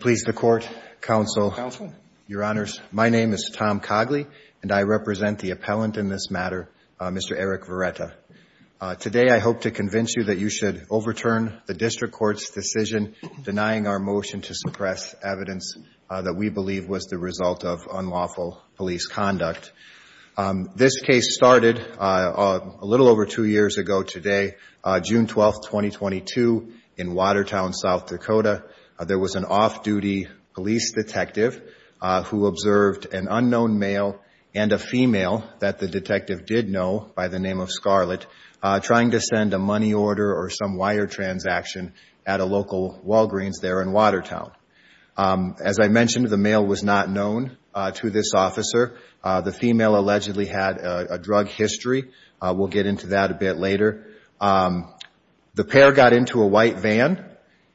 Please the court, counsel, your honors, my name is Tom Cogley and I represent the appellant in this matter, Mr. Eric Virrueta. Today I hope to convince you that you should overturn the district court's decision denying our motion to suppress evidence that we believe was the result of unlawful police conduct. This case started a little over two years ago today, June 12th, 2022, in Watertown, South Dakota. There was an off-duty police detective who observed an unknown male and a female that the detective did know by the name of Scarlett trying to send a money order or some wire transaction at a local Walgreens there in Watertown. As I mentioned, the male was not known to this officer. The female allegedly had a drug history. We'll get into that a bit later. The pair got into a white van.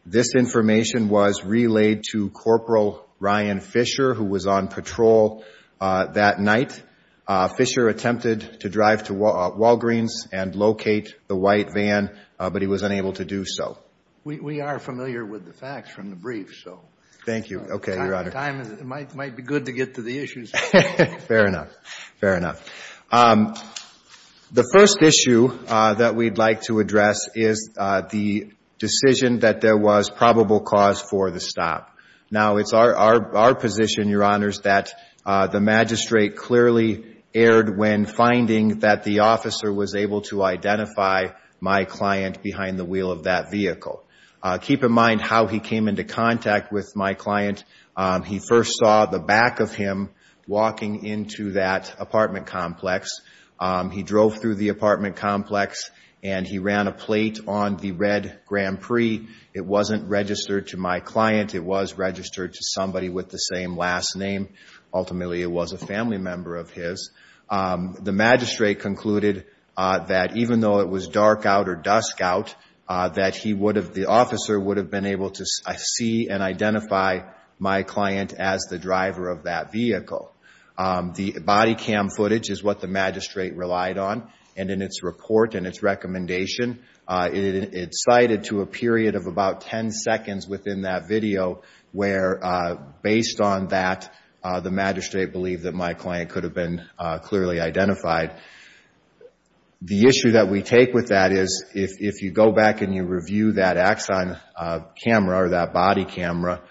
This information was relayed to Corporal Ryan Fisher, who was on patrol that night. Fisher attempted to drive to Walgreens and locate the white van, but he was unable to do so. We are familiar with the facts from the brief, so time might be good to get to the issues Fair enough. Fair enough. The first issue that we'd like to address is the decision that there was probable cause for the stop. Now, it's our position, Your Honors, that the magistrate clearly erred when finding that the officer was able to identify my client behind the wheel of that vehicle. Keep in mind how he came into contact with my client. He first saw the back of him walking into that apartment complex. He drove through the apartment complex, and he ran a plate on the red Grand Prix. It wasn't registered to my client. It was registered to somebody with the same last name. Ultimately, it was a family member of his. The magistrate concluded that even though it was dark out or dusk out, that he would have been able to see and identify my client as the driver of that vehicle. The body cam footage is what the magistrate relied on. In its report and its recommendation, it cited to a period of about ten seconds within that video where, based on that, the magistrate believed that my client could have been clearly identified. The issue that we take with that is, if you go back and you review that Axon camera or that body camera,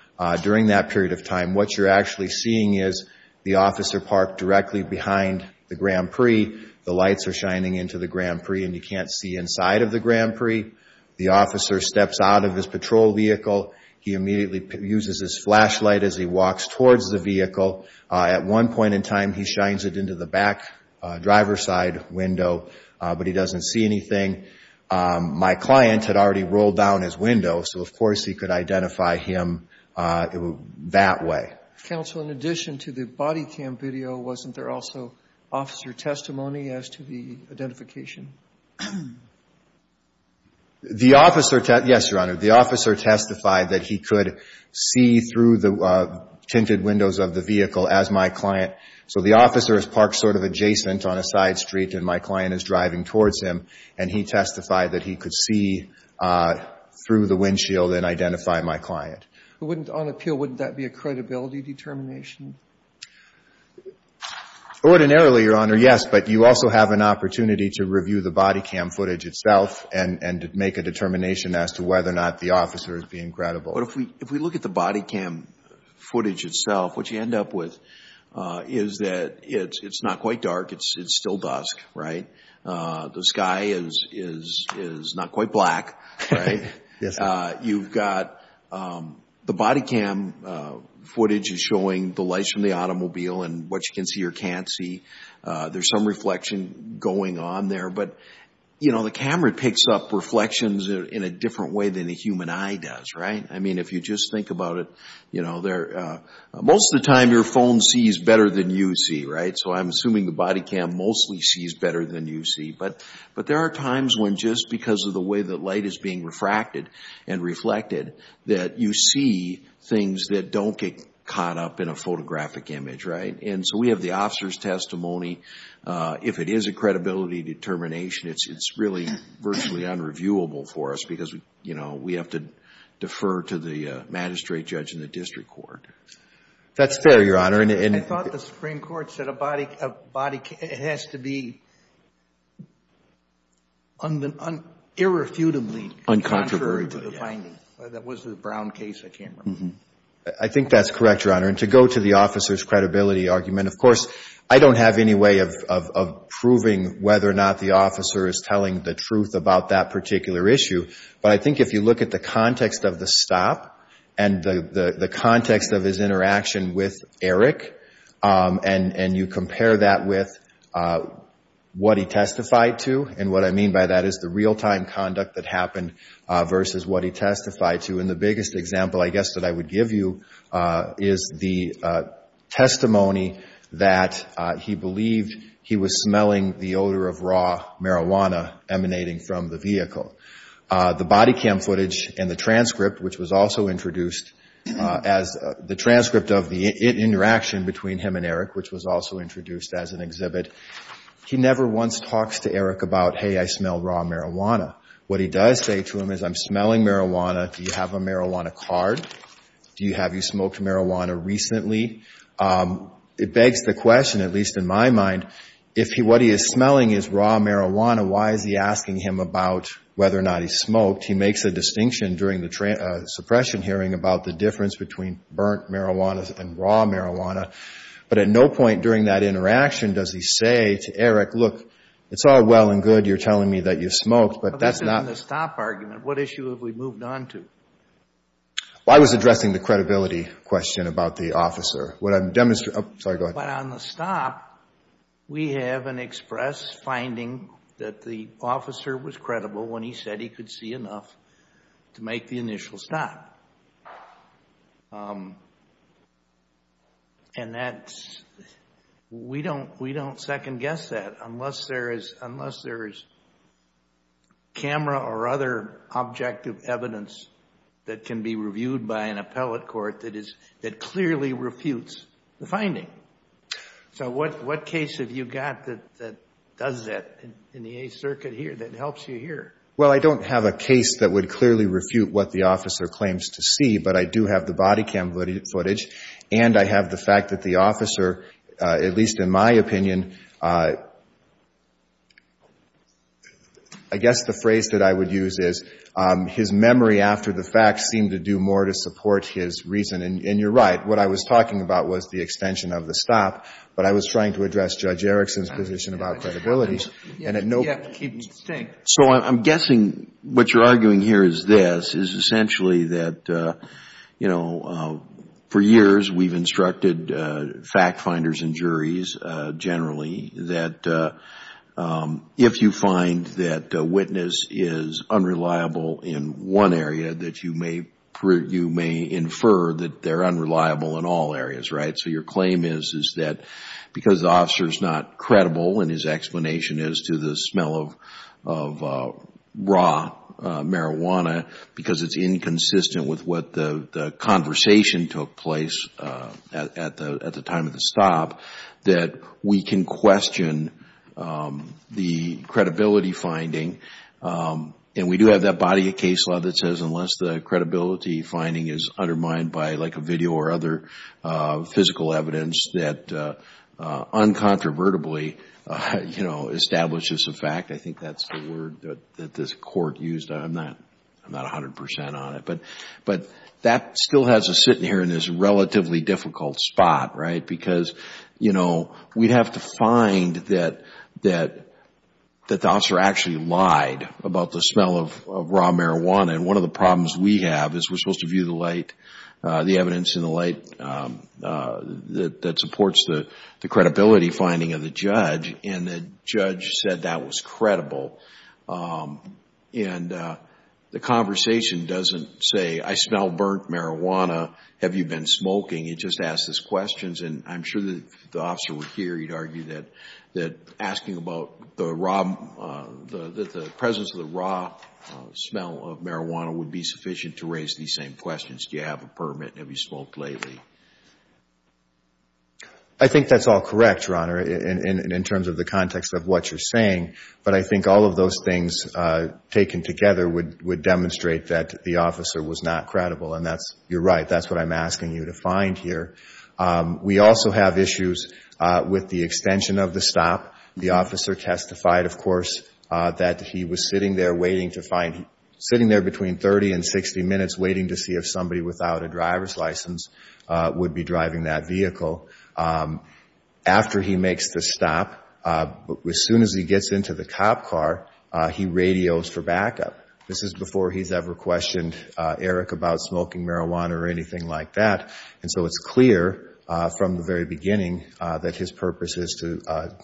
during that period of time, what you're actually seeing is the officer parked directly behind the Grand Prix. The lights are shining into the Grand Prix, and you can't see inside of the Grand Prix. The officer steps out of his patrol vehicle. He immediately uses his flashlight as he walks towards the vehicle. At one point in time, he shines it into the back driver's side window, but he doesn't see anything. My client had already rolled down his window, so, of course, he could identify him that way. Counsel, in addition to the body cam video, wasn't there also officer testimony as to the identification? The officer testified that he could see through the tinted windows of the vehicle as my client. So the officer is parked sort of adjacent on a side street, and my client is driving towards him, and he testified that he could see through the windshield and identify my client. Wouldn't, on appeal, wouldn't that be a credibility determination? Ordinarily, Your Honor, yes, but you also have an opportunity to review the body cam footage itself and make a determination as to whether or not the officer is being credible. If we look at the body cam footage itself, what you end up with is that it's not quite dark. It's still dusk, right? The sky is not quite black, right? You've got the body cam footage is showing the lights from the automobile and what you can see or can't see. There's some reflection going on there, but, you know, the camera picks up reflections in a different way than the human eye does, right? I mean, if you just think about it, you know, most of the time your phone sees better than you see, right? So I'm assuming the body cam mostly sees better than you see, but there are times when just because of the way that light is being refracted and reflected that you see things that don't get caught up in a photographic image, right? And so we have the officer's testimony. If it is a credibility determination, it's really virtually unreviewable for us because, you know, we have to defer to the magistrate judge in the district court. That's fair, Your Honor. I thought the Supreme Court said a body has to be irrefutably contrary to the finding. That was the Brown case, I can't remember. I think that's correct, Your Honor. And to go to the officer's credibility argument, of course, I don't have any way of proving whether or not the officer is telling the truth about that particular issue, but I think if you look at the context of the stop and the context of his interaction with Eric and you compare that with what he testified to, and what I mean by that is the real-time conduct that happened versus what he testified to, and the biggest example, I guess, that I would give you is the testimony that he believed he was smelling the odor of raw marijuana emanating from the vehicle. The body cam footage and the transcript, which was also introduced as the transcript of the interaction between him and Eric, which was also introduced as an exhibit, he never once talks to Eric about, hey, I smell raw marijuana. What he does say to him is, I'm smelling marijuana. Do you have a marijuana card? Have you smoked marijuana recently? It begs the question, at least in my mind, if what he is smelling is raw marijuana, why is he asking him about whether or not he smoked? He makes a distinction during the suppression hearing about the difference between burnt marijuana and raw marijuana, but at no point during that interaction does he say to Eric, look, it's all well and good, you're telling me that you smoked, but that's not— I was addressing the credibility question about the officer. But on the stop, we have an express finding that the officer was credible when he said he could see enough to make the initial stop. We don't second-guess that unless there is camera or other objective evidence that can be reviewed by an appellate court that clearly refutes the finding. So what case have you got that does that in the Eighth Circuit here, that helps you here? Well, I don't have a case that would clearly refute what the officer claims to see, but I do have the body cam footage, and I have the fact that the officer, at least in my opinion, I guess the phrase that I would use is his memory after the fact seemed to do more to support his reason. And you're right, what I was talking about was the extension of the stop, but I was trying to address Judge Erickson's position about credibility. And at no— So I'm guessing what you're arguing here is this, is essentially that, you know, for years, we've instructed fact-finders and juries generally that if you find that a witness is unreliable in one area, that you may infer that they're unreliable in all areas, right? So your claim is that because the officer's not credible, and his explanation is to the smell of raw marijuana, because it's at the time of the stop, that we can question the credibility finding. And we do have that body of case law that says unless the credibility finding is undermined by like a video or other physical evidence that uncontrovertibly, you know, establishes a fact, I think that's the word that this court used. I'm not 100% on it, but that still has us sitting here in this relatively difficult spot, right? Because, you know, we'd have to find that the officer actually lied about the smell of raw marijuana. And one of the problems we have is we're supposed to view the light, the evidence in the light that supports the credibility finding of the judge, and the judge said that was credible. And the conversation doesn't say, I smell burnt marijuana, have you been smoking? It just asks us questions. And I'm sure that if the officer were here, he'd argue that asking about the presence of the raw smell of marijuana would be sufficient to raise these same questions. Do you have a permit? Have you smoked lately? I think that's all correct, Your Honor, in terms of the context of what you're saying, but I think all of those things taken together would demonstrate that the officer was not credible, and that's, you're right, that's what I'm asking you to find here. We also have issues with the extension of the stop. The officer testified, of course, that he was sitting there waiting to find, sitting there between 30 and 60 minutes waiting to see if somebody without a as he gets into the cop car, he radios for backup. This is before he's ever questioned Eric about smoking marijuana or anything like that, and so it's clear from the very beginning that his purpose is to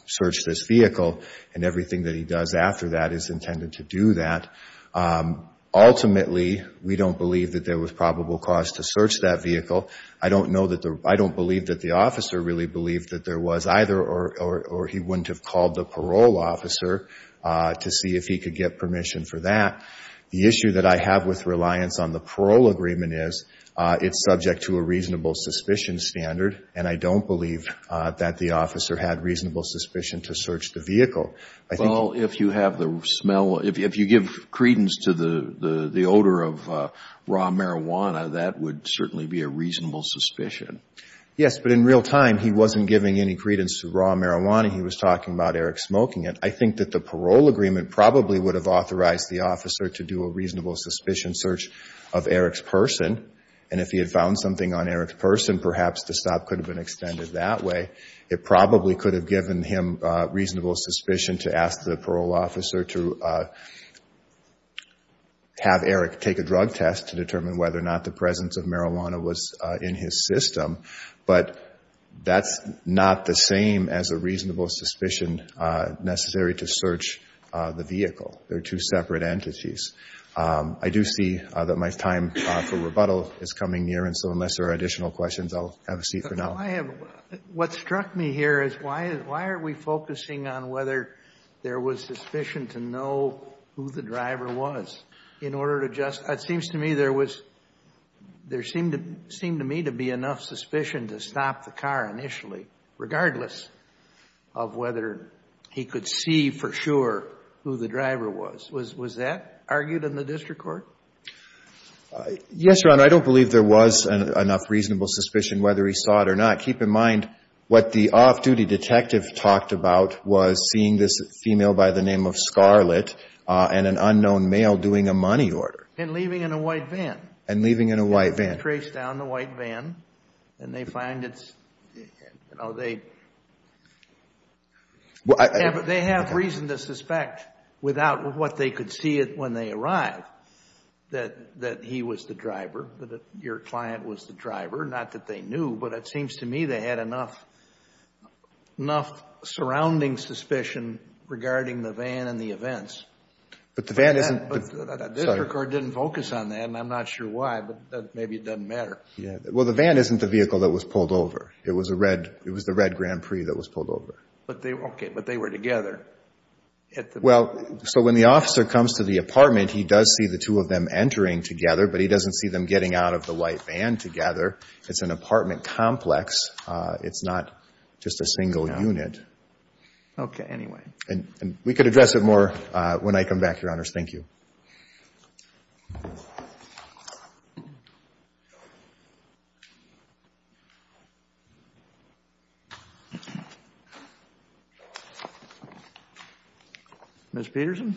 search this vehicle, and everything that he does after that is intended to do that. Ultimately, we don't believe that there was probable cause to search that vehicle. I don't know that the, I don't believe that the officer really believed that there was either, or he wouldn't have called the parole officer to see if he could get permission for that. The issue that I have with reliance on the parole agreement is it's subject to a reasonable suspicion standard, and I don't believe that the officer had reasonable suspicion to search the vehicle. Well, if you have the smell, if you give credence to the Yes, but in real time, he wasn't giving any credence to raw marijuana. He was talking about Eric smoking it. I think that the parole agreement probably would have authorized the officer to do a reasonable suspicion search of Eric's person, and if he had found something on Eric's person, perhaps the stop could have been extended that way. It probably could have given him reasonable suspicion to ask the parole officer to have Eric take a drug test to determine whether or not the presence of marijuana was in his system, but that's not the same as a reasonable suspicion necessary to search the vehicle. They're two separate entities. I do see that my time for rebuttal is coming near, and so unless there are additional questions, I'll have a seat for now. But I have, what struck me here is why, why are we focusing on whether there was suspicion to know who the driver was? It seems to me there was, there seemed to me to be enough suspicion to stop the car initially, regardless of whether he could see for sure who the driver was. Was that argued in the district court? Yes, Your Honor. I don't believe there was enough reasonable suspicion whether he saw it or not. Keep in mind what the off-duty detective talked about was seeing this female by the name of Scarlett and an unknown male doing a money order. And leaving in a white van. And leaving in a white van. Traced down the white van, and they find it's, you know, they have reason to suspect without what they could see it when they arrived that he was the driver, that your client was the driver. Not that they knew, but it seems to me they had enough surrounding suspicion regarding the van and the events. But the van isn't... But the district court didn't focus on that, and I'm not sure why, but maybe it doesn't matter. Yeah. Well, the van isn't the vehicle that was pulled over. It was a red, it was the red Grand Prix that was pulled over. But they, okay, but they were together at the... Well, so when the officer comes to the apartment, he does see the two of them entering together, but he doesn't see them getting out of the white van together. It's an apartment complex. It's not just a single unit. Okay. Anyway. And we could address it more when I come back, Your Honors. Thank you. Ms. Peterson?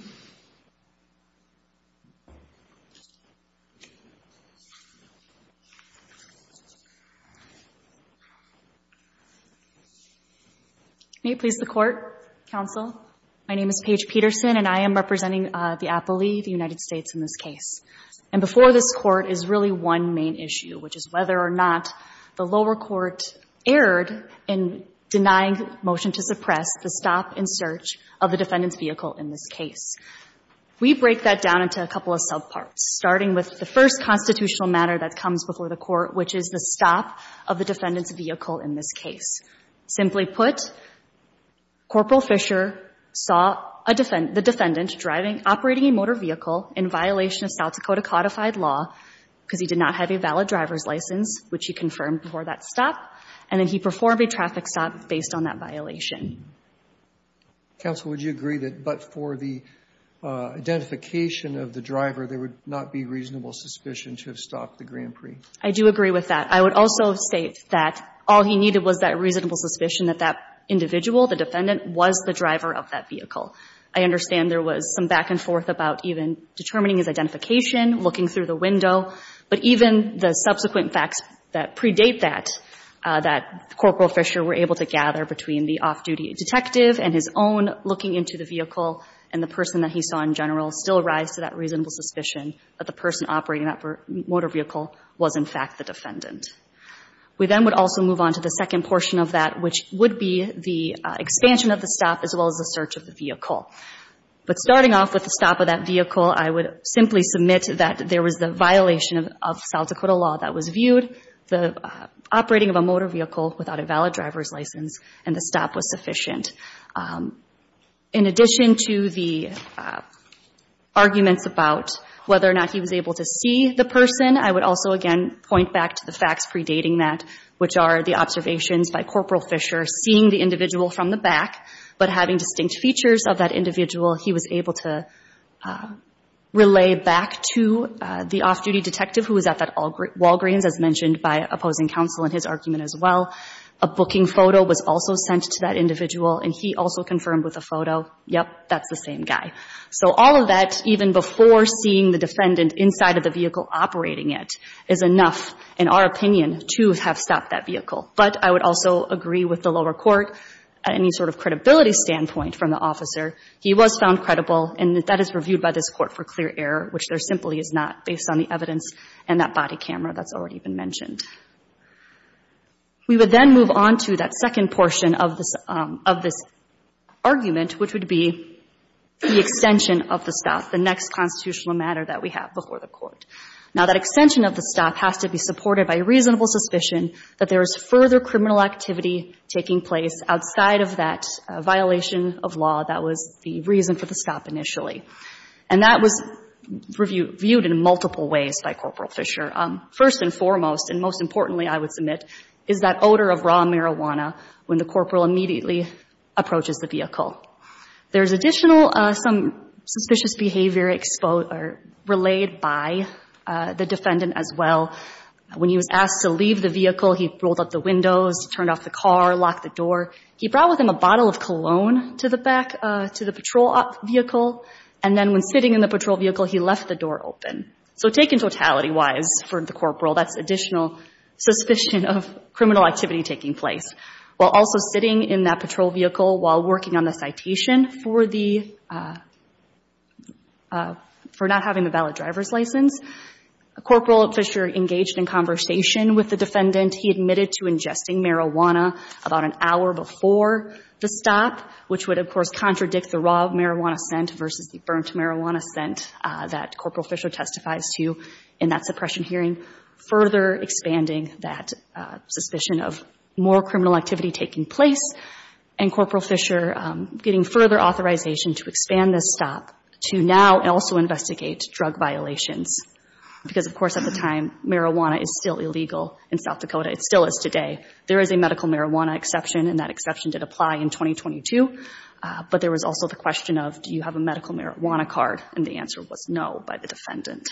May it please the Court, Counsel? My name is Paige Peterson, and I am representing the appellee, the United States, in this case. And before this Court is really one main issue, which is whether or not the lower court erred in denying motion to suppress the stop and search of the defendant's vehicle in this case. We break that down into a couple of subparts, starting with the first constitutional matter that comes before the Court, which is the stop of the defendant's vehicle in this case. Simply put, Corporal Fisher saw the defendant operating a motor vehicle in violation of South Dakota codified law, because he did not have a valid driver's license, which he confirmed before that stop. And then he performed a traffic stop based on that violation. Counsel, would you agree that, but for the identification of the driver, there would not be reasonable suspicion to have stopped the Grand Prix? I do agree with that. I would also state that all he needed was that reasonable suspicion that that individual, the defendant, was the driver of that vehicle. I understand there was some back and forth about even determining his identification, looking through the window. But even the subsequent facts that predate that, that Corporal Fisher were able to gather between the off-duty detective and his own looking into the vehicle, and the person that he saw in general, still rise to that reasonable suspicion that the person operating that motor vehicle was, in fact, the defendant. We then would also move on to the second portion of that, which would be the expansion of the stop as well as the search of the vehicle. But starting off with the stop of that vehicle, I would simply submit that there was the violation of South Dakota law that was viewed, the operating of a motor vehicle without a valid driver's license, and the stop was sufficient. In addition to the arguments about whether or not he was able to see the person, I would also again point back to the facts predating that, which are the observations by Corporal Fisher seeing the individual from the back, but having distinct features of that individual, he was able to relay back to the off-duty detective who was at that Walgreens, as mentioned by opposing counsel in his argument as well. A booking photo was also sent to that individual, and he also confirmed with a photo, yep, that's the same guy. So all of that, even before seeing the defendant inside of the vehicle operating it, is enough, in our opinion, to have stopped that vehicle. But I would also agree with the lower court, any sort of credibility standpoint from the officer, he was found credible, and that is reviewed by this court for clear error, which there simply is not, based on the evidence and that body camera that's already been mentioned. We would then move on to that second portion of this argument, which would be the extension of the stop, the next constitutional matter that we have before the court. Now that extension of the stop has to be supported by reasonable suspicion that there is further criminal activity taking place outside of that violation of law that was the reason for the stop initially. And that was reviewed in multiple ways by Corporal Fisher. First and foremost, and most importantly, I would submit, is that odor of raw marijuana when the corporal immediately approaches the vehicle. There's additional, some suspicious behavior relayed by the defendant as well. When he was asked to leave the vehicle, he rolled up the windows, turned off the car, locked the door. He brought with him a bottle of cologne to the back, to the patrol vehicle, and then when sitting in the patrol vehicle, he left the door open. So taken totality-wise for the corporal, that's additional suspicion of criminal activity taking place. While also sitting in that patrol vehicle while working on the citation for the, for not having the valid driver's license, Corporal Fisher engaged in conversation with the defendant. He admitted to ingesting marijuana about an hour before the stop, which would, of course, contradict the raw marijuana scent versus the burnt marijuana scent that Corporal Fisher testifies to in that suppression hearing. Further expanding that suspicion of more criminal activity taking place, and Corporal Fisher getting further authorization to expand this stop to now also investigate drug violations. Because, of course, at the time, marijuana is still illegal in South Dakota. It still is today. There is a medical marijuana exception, and that exception did apply in 2022. But there was also the question of, do you have a medical marijuana card? And the answer was no by the defendant.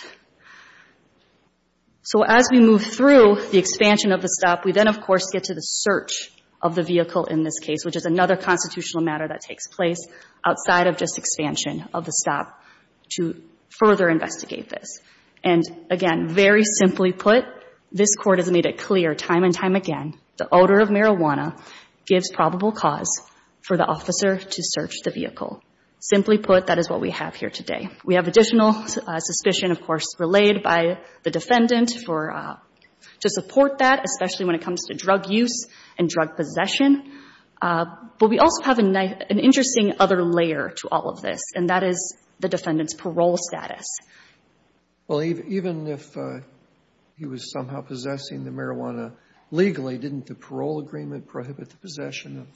So as we move through the expansion of the stop, we then, of course, get to the search of the vehicle in this case, which is another constitutional matter that takes place outside of just expansion of the stop to further investigate this. And again, very simply put, this Court has made it clear time and time again, the odor of marijuana gives probable cause for the officer to search the vehicle. Simply put, that is what we have here today. We have additional suspicion, of course, relayed by the defendant to support that, especially when it comes to drug use and drug possession. But we also have an interesting other layer to all of this, and that is the defendant's parole status. Well, even if he was somehow possessing the marijuana legally, didn't the parole agreement prohibit the possession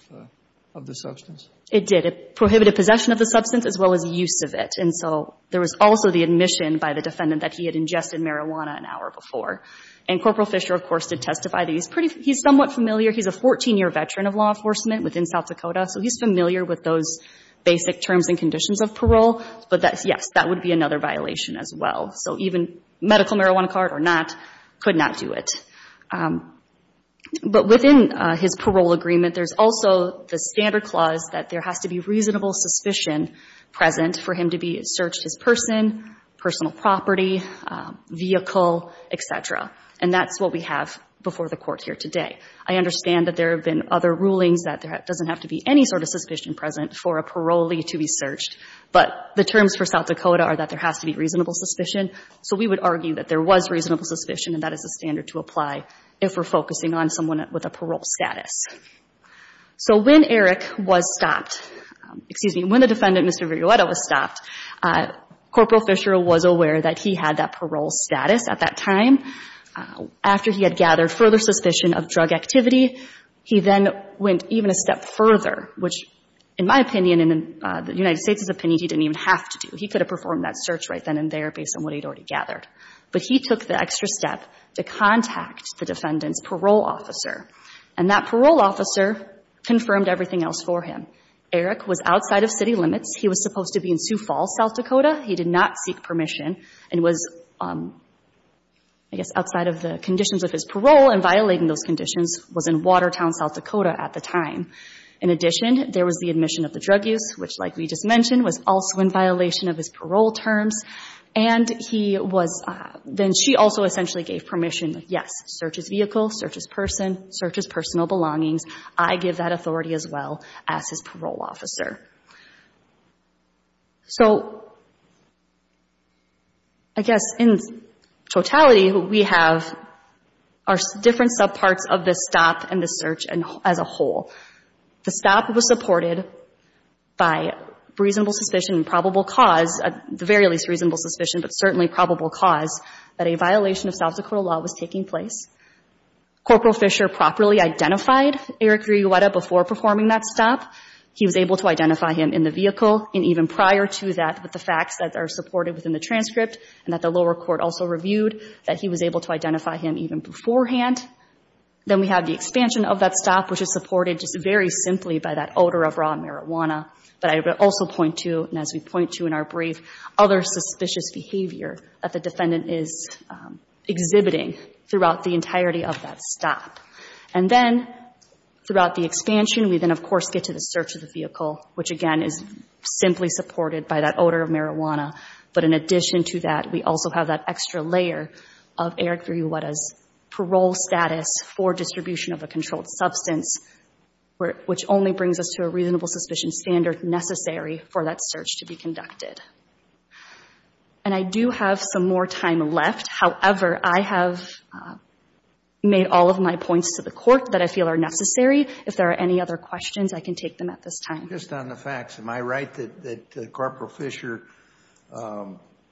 of the substance? It did. It prohibited possession of the substance as well as use of it. And so there was also the admission by the defendant that he had ingested marijuana an hour before. And Corporal Fisher, of course, did testify that he's somewhat familiar. He's a 14-year veteran of law enforcement within South Dakota, so he's familiar with those basic terms and conditions of parole. But yes, that would be another violation as well. So even medical marijuana card or not could not do it. But within his parole agreement, there's also the standard clause that there has to be reasonable suspicion present for him to be searched his person, personal property, vehicle, et cetera. And that's what we have before the Court here today. I understand that there have been other rulings that there doesn't have to be any sort of suspicion present for a parolee to be searched. But the terms for South Dakota are that there has to be reasonable suspicion. So we would argue that there was reasonable suspicion and that is the standard to apply if we're focusing on someone with a parole status. So when Eric was stopped, excuse me, when the defendant, Mr. Viruetta, was stopped, Corporal Fisher was aware that he had that parole status at that time. After he had gathered further suspicion of drug activity, he then went even a step further, which in my opinion and in the United States' opinion, he didn't even have to do. He could have performed that search right then and there based on what he'd already gathered. But he took the extra step to contact the defendant's parole officer. And that parole officer confirmed everything else for him. Eric was outside of city limits. He was supposed to be in Sioux Falls, South Dakota. He did not seek permission and was, I guess, outside of the conditions of his parole and violating those conditions was in Watertown, South Dakota at the time. In addition, there was the admission of the drug use, which like we just mentioned was also in violation of his parole terms. And he was, then she also essentially gave permission. Yes, search his vehicle, search his person, search his personal belongings. I give that authority as well as his parole officer. So I guess in totality, we have our different subparts of this stop and the search as a whole. The stop was supported by reasonable suspicion and probable cause, at the very least reasonable suspicion but certainly probable cause, that a violation of South Dakota law was taking place. Corporal Fisher properly identified Eric Riguetta before performing that stop. He was able to identify him in the vehicle and even prior to that with the facts that are supported within the transcript and that the lower court also reviewed that he was able to identify him even beforehand. Then we have the expansion of that stop, which is supported just very simply by that odor of raw marijuana. But I would also point to, and as we point to in our brief, other suspicious behavior that the defendant is exhibiting throughout the entirety of that stop. And then throughout the expansion, we then of course get to the search of the vehicle, which again is simply supported by that odor of marijuana. But in addition to that, we also have that extra layer of Eric Riguetta's parole status for distribution of a controlled substance, which only brings us to a reasonable suspicion standard necessary for that search to be conducted. And I do have some more time left. However, I have made all of my points to the court that I feel are necessary. If there are any other questions, I can take them at this time. Just on the facts, am I right that Corporal Fisher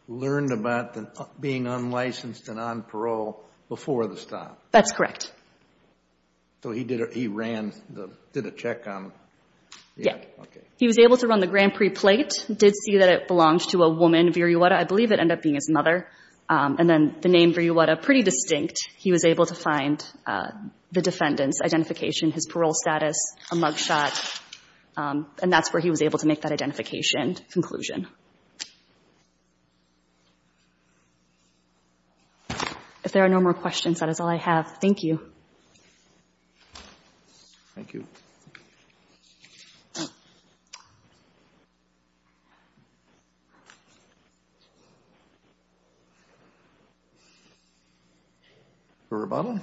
learned about being unlicensed and on parole before the stop? That's correct. So he did a, he ran the, did a check on... Yeah. Okay. He was able to run the Grand Prix plate, did see that it belonged to a woman, and Viriuretta, I believe it ended up being his mother. And then the name Viriuretta, pretty distinct. He was able to find the defendant's identification, his parole status, a mug shot. And that's where he was able to make that identification conclusion. If there are no more questions, that is all I have. Thank you. Thank you. Thank you.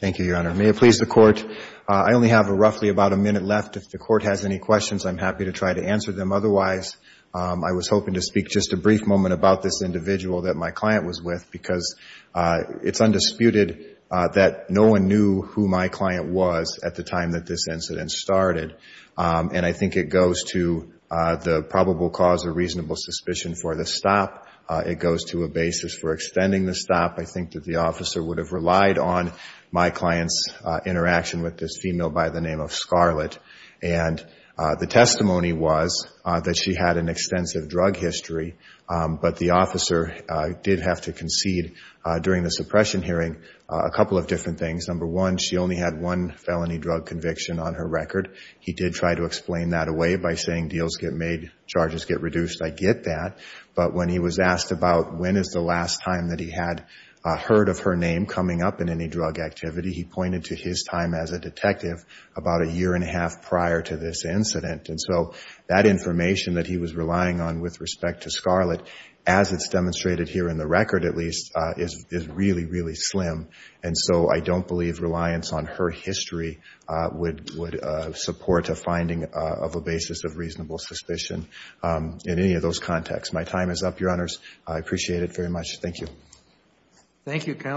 Thank you, Your Honor. May it please the court, I only have roughly about a minute left. If the court has any questions, I'm happy to try to answer them. Otherwise, I was hoping to speak just a brief moment about this individual that my client was with because it's undisputed that no one knew who my client was at the time that this incident started. And I think it goes to the probable cause of reasonable suspicion for the stop. It goes to a basis for extending the stop. I think that the officer would have relied on my client's interaction with this female by the name of Scarlett. And the testimony was that she had an extensive drug history, but the officer did have to concede during the suppression hearing a couple of different things. Number one, she only had one felony drug conviction on her record. He did try to explain that away by saying deals get made, charges get reduced. I get that. But when he was asked about when is the last time that he had heard of her name coming up in any drug activity, he pointed to his time as a detective about a year and a half prior to this incident. And so that information that he was relying on with respect to Scarlett, as it's demonstrated here in the record at least, is really, really slim. And so I don't believe reliance on her history would support a finding of a basis of reasonable suspicion in any of those contexts. My time is up, Your Honors. I appreciate it very much. Thank you. Thank you, counsel.